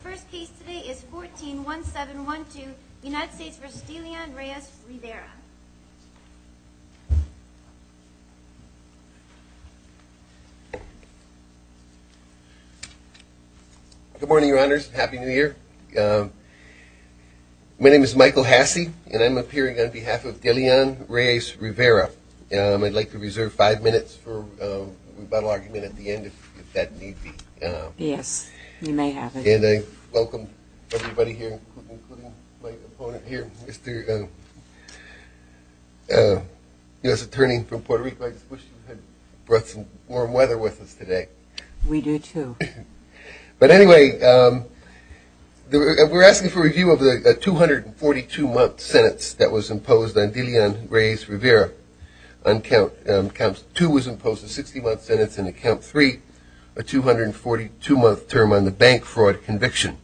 The first case today is 141712, United States v. DeLeon Reyes-Rivera. Good morning, Your Honors. Happy New Year. My name is Michael Hasse, and I'm appearing on behalf of DeLeon Reyes-Rivera. I'd like to reserve five minutes for rebuttal argument at the end, if that need be. Yes, you may have it. And I welcome everybody here, including my opponent here, Mr. U.S. Attorney from Puerto Rico. I just wish you had brought some warm weather with us today. We do, too. But anyway, we're asking for review of the 242-month sentence that was imposed on DeLeon Reyes-Rivera. On count two was imposed a 60-month sentence, and on count three, a 242-month term on the bank fraud conviction.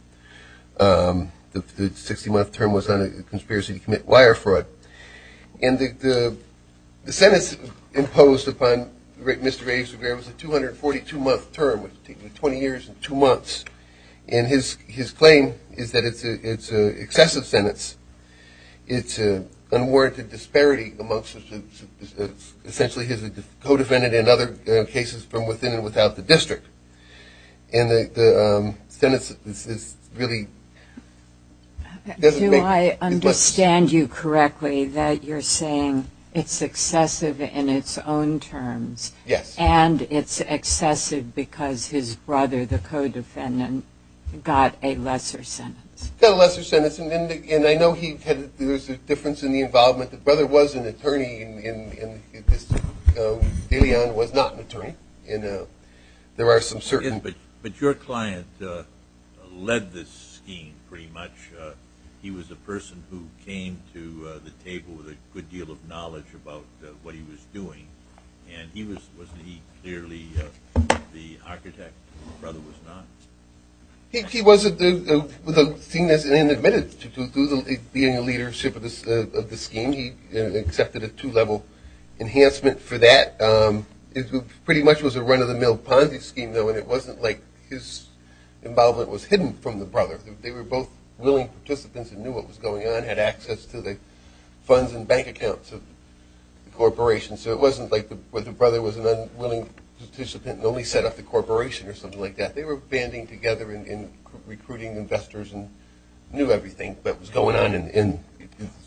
The 60-month term was on a conspiracy to commit wire fraud. And the sentence imposed upon Mr. Reyes-Rivera was a 242-month term, taking 20 years and two months. And his claim is that it's an excessive sentence. It's an unwarranted disparity amongst essentially his co-defendant and other cases from within and without the district. And the sentence is really – Do I understand you correctly that you're saying it's excessive in its own terms? Yes. And it's excessive because his brother, the co-defendant, got a lesser sentence? Got a lesser sentence. And I know there's a difference in the involvement. The brother was an attorney, and DeLeon was not an attorney. There are some certain – But your client led this scheme, pretty much. He was a person who came to the table with a good deal of knowledge about what he was doing. And wasn't he clearly the architect? The brother was not? He wasn't seen as inadmitted to being the leadership of the scheme. He accepted a two-level enhancement for that. It pretty much was a run-of-the-mill Ponzi scheme, though, and it wasn't like his involvement was hidden from the brother. They were both willing participants and knew what was going on, had access to the funds and bank accounts of the corporation. So it wasn't like the brother was an unwilling participant and only set up the corporation or something like that. They were banding together and recruiting investors and knew everything that was going on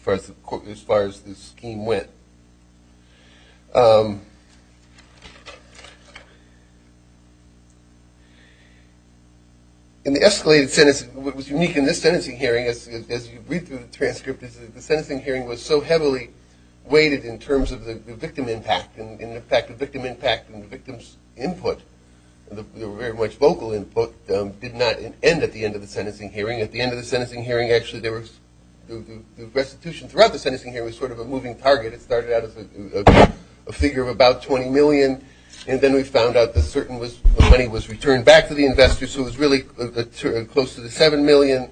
as far as the scheme went. And the escalated sentence, what was unique in this sentencing hearing, as you read through the transcript, is the sentencing hearing was so heavily weighted in terms of the victim impact and the victim's input. There was very much vocal input. It did not end at the end of the sentencing hearing. At the end of the sentencing hearing, actually, the restitution throughout the sentencing hearing was sort of a moving target. It started out as a figure of about $20 million, and then we found out the money was returned back to the investors, so it was really close to the $7 million.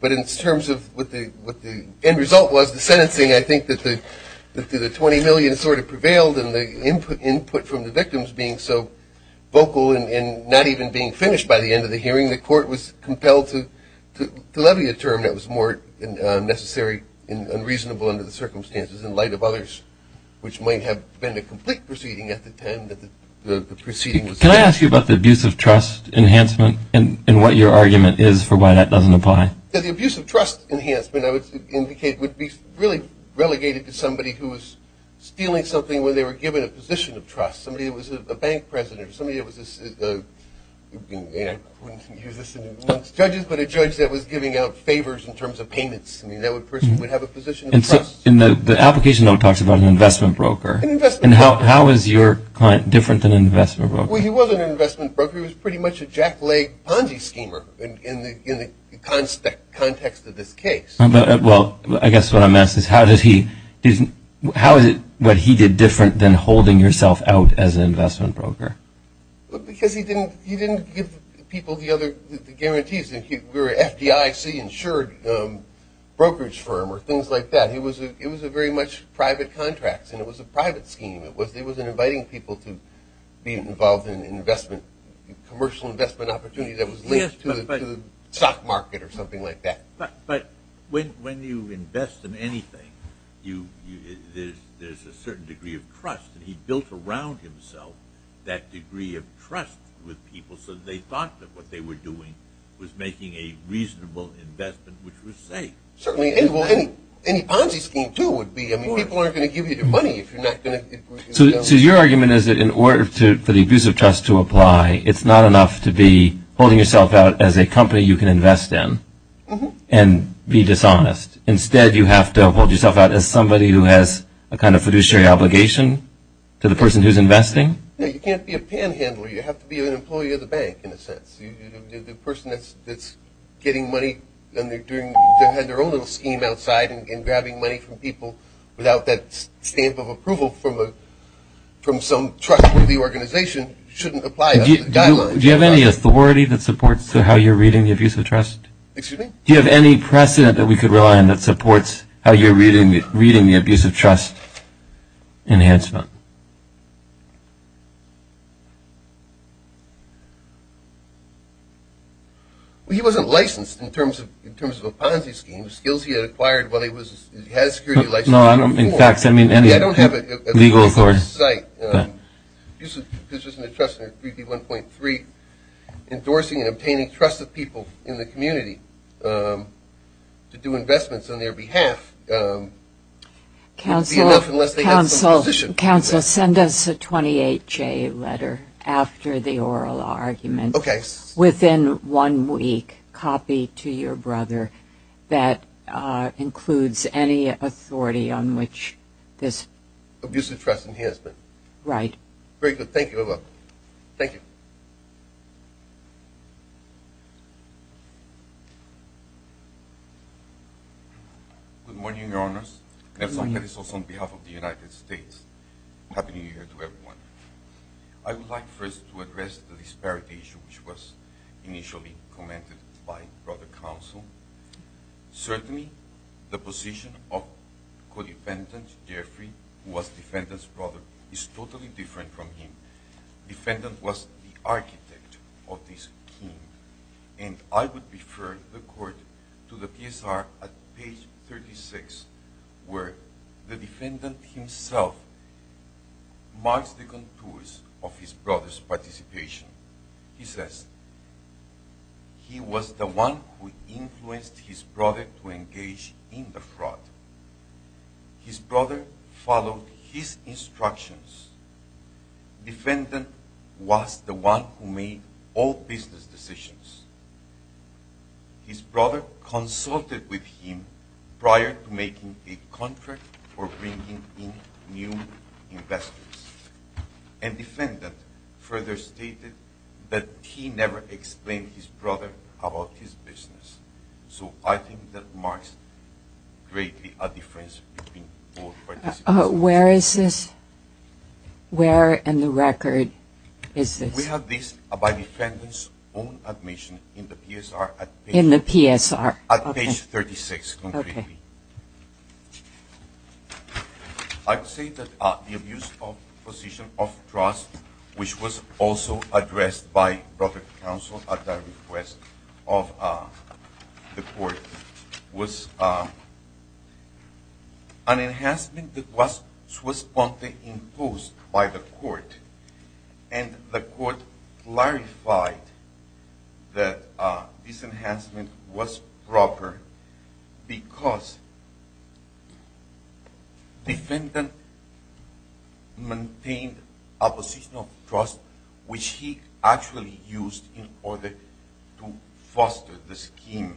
But in terms of what the end result was, the sentencing, I think that the $20 million sort of prevailed, and the input from the victims being so vocal and not even being finished by the end of the hearing, the court was compelled to levy a term that was more necessary and unreasonable under the circumstances in light of others, which might have been a complete proceeding at the time that the proceeding was made. Can I ask you about the abuse of trust enhancement and what your argument is for why that doesn't apply? The abuse of trust enhancement, I would indicate, would be really relegated to somebody who was stealing something when they were given a position of trust, somebody that was a bank president, somebody that was a judge that was giving out favors in terms of payments. I mean, that person would have a position of trust. And the application talks about an investment broker. An investment broker. And how is your client different than an investment broker? Well, he wasn't an investment broker. He was pretty much a jack-leg Ponzi schemer in the context of this case. Well, I guess what I'm asking is how is it what he did different than holding yourself out as an investment broker? Because he didn't give people the other guarantees. We were an FDIC-insured brokerage firm or things like that. It was very much private contracts, and it was a private scheme. It wasn't inviting people to be involved in investment, commercial investment opportunities that was linked to the stock market or something like that. But when you invest in anything, there's a certain degree of trust. And he built around himself that degree of trust with people so that they thought that what they were doing was making a reasonable investment, which was safe. Certainly any Ponzi scheme, too, would be. I mean, people aren't going to give you their money if you're not going to do it. So your argument is that in order for the abuse of trust to apply, it's not enough to be holding yourself out as a company you can invest in and be dishonest. Instead, you have to hold yourself out as somebody who has a kind of fiduciary obligation to the person who's investing? You can't be a panhandler. You have to be an employee of the bank in a sense. The person that's getting money and they're doing their own little scheme outside and grabbing money from people without that stamp of approval from some trustworthy organization shouldn't apply. Do you have any authority that supports how you're reading the abuse of trust? Excuse me? Do you have any precedent that we could rely on that supports how you're reading the abuse of trust enhancement? Well, he wasn't licensed in terms of a Ponzi scheme. The skills he had acquired while he was – he had a security license. No, I don't – in fact, I mean – I don't have it. It's on the site. Abuse of trust in 3D1.3, endorsing and obtaining trust of people in the community to do investments on their behalf would be enough unless they have some position. Counsel, send us a 28-J letter after the oral argument. Okay. Yes. Within one week, copy to your brother that includes any authority on which this – Abuse of trust in his name. Right. Very good. Thank you very much. Thank you. Good morning, Your Honors. Good morning. Nelson Melisos on behalf of the United States. Happy New Year to everyone. I would like first to address the disparity issue, which was initially commented by Brother Counsel. Certainly, the position of Codependent Jeffrey, who was Defendant's brother, is totally different from him. Defendant was the architect of this scheme. And I would refer the Court to the PSR at page 36, where the Defendant himself marks the contours of his brother's participation. He says, he was the one who influenced his brother to engage in the fraud. His brother followed his instructions. Defendant was the one who made all business decisions. His brother consulted with him prior to making a contract for bringing in new investors. And Defendant further stated that he never explained his brother about his business. So I think that marks greatly a difference between both participants. Where is this? Where in the record is this? We have this by Defendant's own admission in the PSR. In the PSR. At page 36, concretely. Okay. I would say that the abuse of position of trust, which was also addressed by Brother Counsel at the request of the Court, was an enhancement that was promptly imposed by the Court. And the Court clarified that this enhancement was proper because Defendant maintained a position of trust, which he actually used in order to foster the scheme.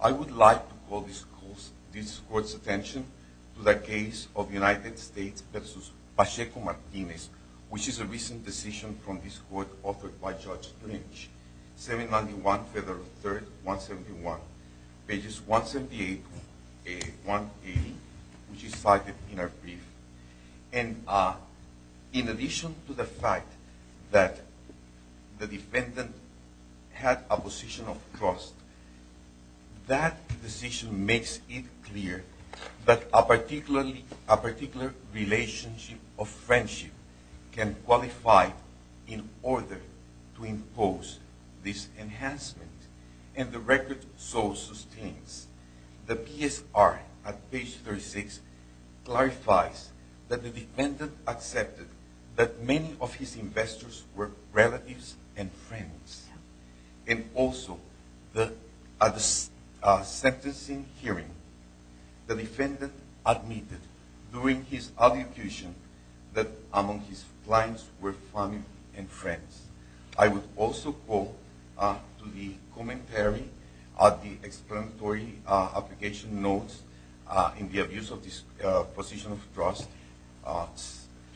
I would like to call this Court's attention to the case of United States v. Pacheco-Martinez, which is a recent decision from this Court offered by Judge Lynch. 791 Federal 3rd, 171. Pages 178 and 180, which is cited in our brief. And in addition to the fact that the Defendant had a position of trust, that decision makes it clear that a particular relationship of friendship can qualify in order to impose this enhancement. And the record so sustains. The PSR at page 36 clarifies that the Defendant accepted that many of his investors were relatives and friends. And also, at the sentencing hearing, the Defendant admitted during his adjudication that among his clients were family and friends. I would also call to the commentary of the explanatory application notes in the abuse of this position of trust,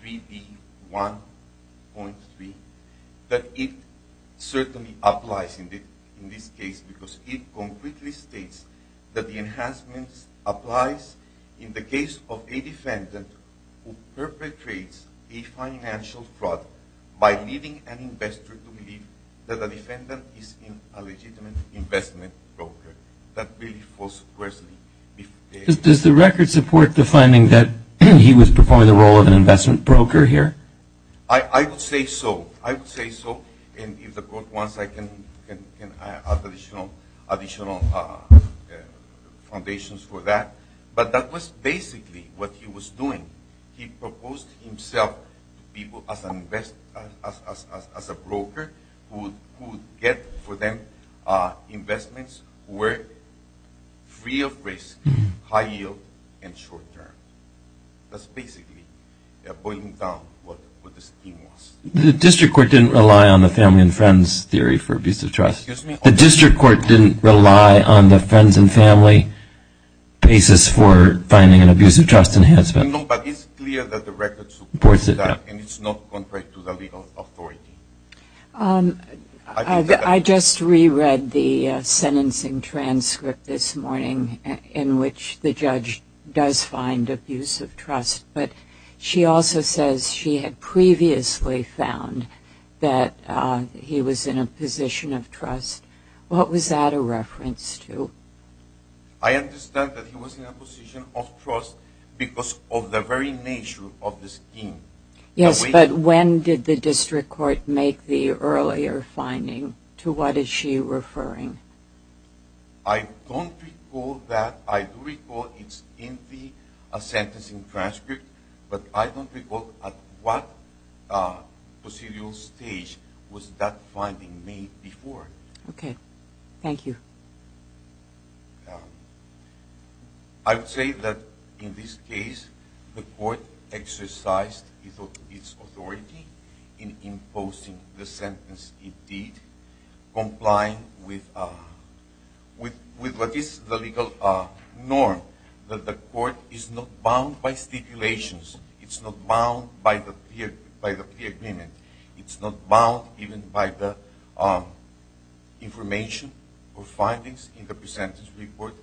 3D1.3, that it certainly applies in this case because it concretely states that the enhancement applies in the case of a Defendant who perpetrates a financial fraud by leading an investor to believe that a Defendant is in a legitimate investment broker. That belief was worsened. Does the record support the finding that he was performing the role of an investment broker here? I would say so. I would say so. And if the Court wants, I can add additional foundations for that. But that was basically what he was doing. He proposed himself to people as a broker who would get for them investments who were free of risk, high yield, and short term. That's basically putting down what the scheme was. The District Court didn't rely on the family and friends theory for abuse of trust. Excuse me? The District Court didn't rely on the friends and family basis for finding an abuse of trust enhancement. No, but it's clear that the record supports that and it's not contrary to the legal authority. I just reread the sentencing transcript this morning in which the judge does find abuse of trust. But she also says she had previously found that he was in a position of trust. What was that a reference to? I understand that he was in a position of trust because of the very nature of the scheme. Yes, but when did the District Court make the earlier finding? To what is she referring? I don't recall that. I do recall it's in the sentencing transcript, but I don't recall at what procedural stage was that finding made before. Okay, thank you. I would say that in this case the court exercised its authority in imposing the sentence it did, complying with what is the legal norm that the court is not bound by stipulations. It's not bound by the agreement. It's not bound even by the information or findings in the pre-sentence report.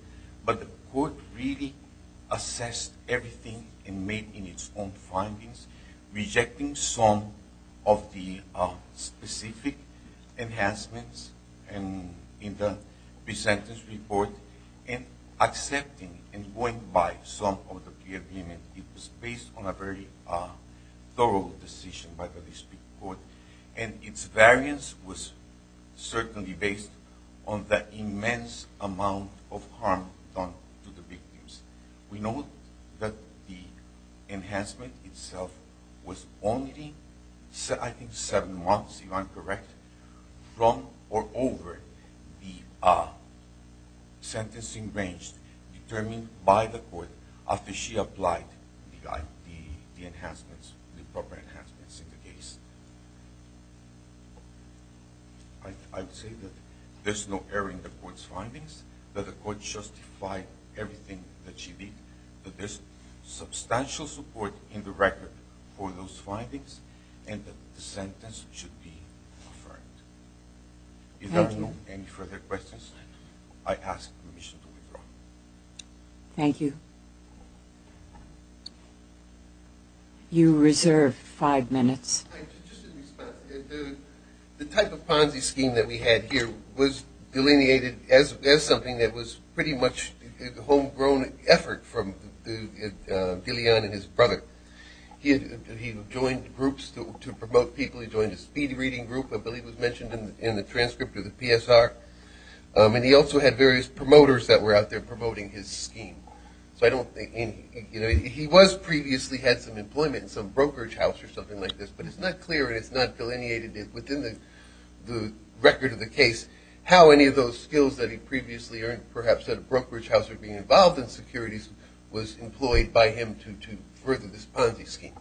But the court really assessed everything and made its own findings, rejecting some of the specific enhancements in the pre-sentence report and accepting and going by some of the pre-agreement. It was based on a very thorough decision by the District Court, and its variance was certainly based on the immense amount of harm done to the victims. We know that the enhancement itself was only, I think, seven months, if I'm correct, from or over the sentencing range determined by the court after she applied the enhancements, the proper enhancements in the case. I would say that there's no error in the court's findings, that the court justified everything that she did, that there's substantial support in the record for those findings, and that the sentence should be offered. If there are no further questions, I ask permission to withdraw. Thank you. You reserve five minutes. The type of Ponzi scheme that we had here was delineated as something that was pretty much a homegrown effort from DeLeon and his brother. He joined groups to promote people. He joined a speed reading group, I believe was mentioned in the transcript of the PSR. And he also had various promoters that were out there promoting his scheme. So I don't think any – he was previously had some employment in some brokerage house or something like this, but it's not clear and it's not delineated within the record of the case how any of those skills that he previously earned perhaps at a brokerage house or being involved in securities was employed by him to further this Ponzi scheme.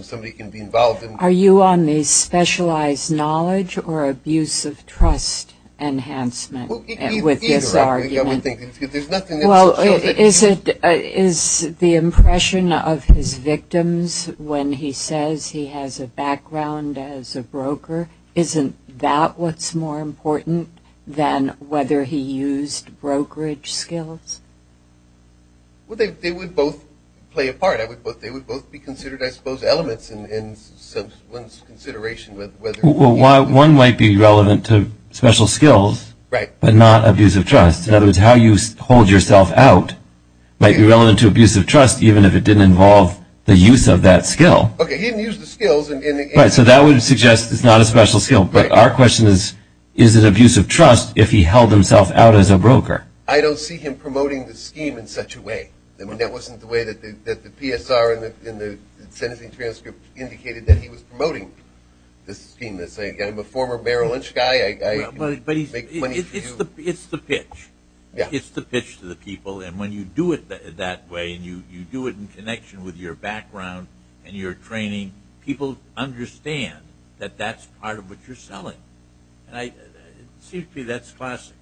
Somebody can be involved in – Are you on the specialized knowledge or abuse of trust enhancement with this argument? Well, either. There's nothing else to show that – Well, is it – is the impression of his victims when he says he has a background as a broker, isn't that what's more important than whether he used brokerage skills? Well, they would both play a part. They would both be considered, I suppose, elements in someone's consideration whether – Well, one might be relevant to special skills but not abuse of trust. In other words, how you hold yourself out might be relevant to abuse of trust even if it didn't involve the use of that skill. Okay, he didn't use the skills and – Right, so that would suggest it's not a special skill. But our question is, is it abuse of trust if he held himself out as a broker? I don't see him promoting the scheme in such a way. That wasn't the way that the PSR in the sentencing transcript indicated that he was promoting this scheme. I'm a former Merrill Lynch guy. But it's the pitch. It's the pitch to the people. And when you do it that way and you do it in connection with your background and your training, people understand that that's part of what you're selling. And it seems to me that's classic.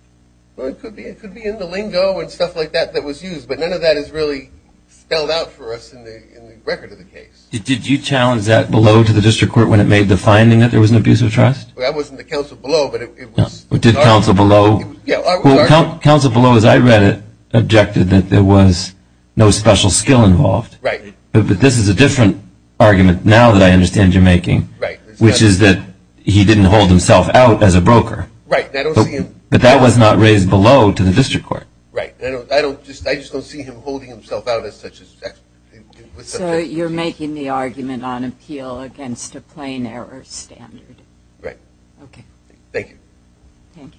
Well, it could be. It could be in the lingo and stuff like that that was used. But none of that is really spelled out for us in the record of the case. Did you challenge that below to the district court when it made the finding that there was an abuse of trust? Well, that was in the counsel below, but it was – Did counsel below – Yeah, it was our – Well, counsel below, as I read it, objected that there was no special skill involved. Right. But this is a different argument now that I understand you're making. Right. Which is that he didn't hold himself out as a broker. Right. But I don't see him – But that was not raised below to the district court. Right. I just don't see him holding himself out as such. So you're making the argument on appeal against a plain error standard. Right. Okay. Thank you. Thank you.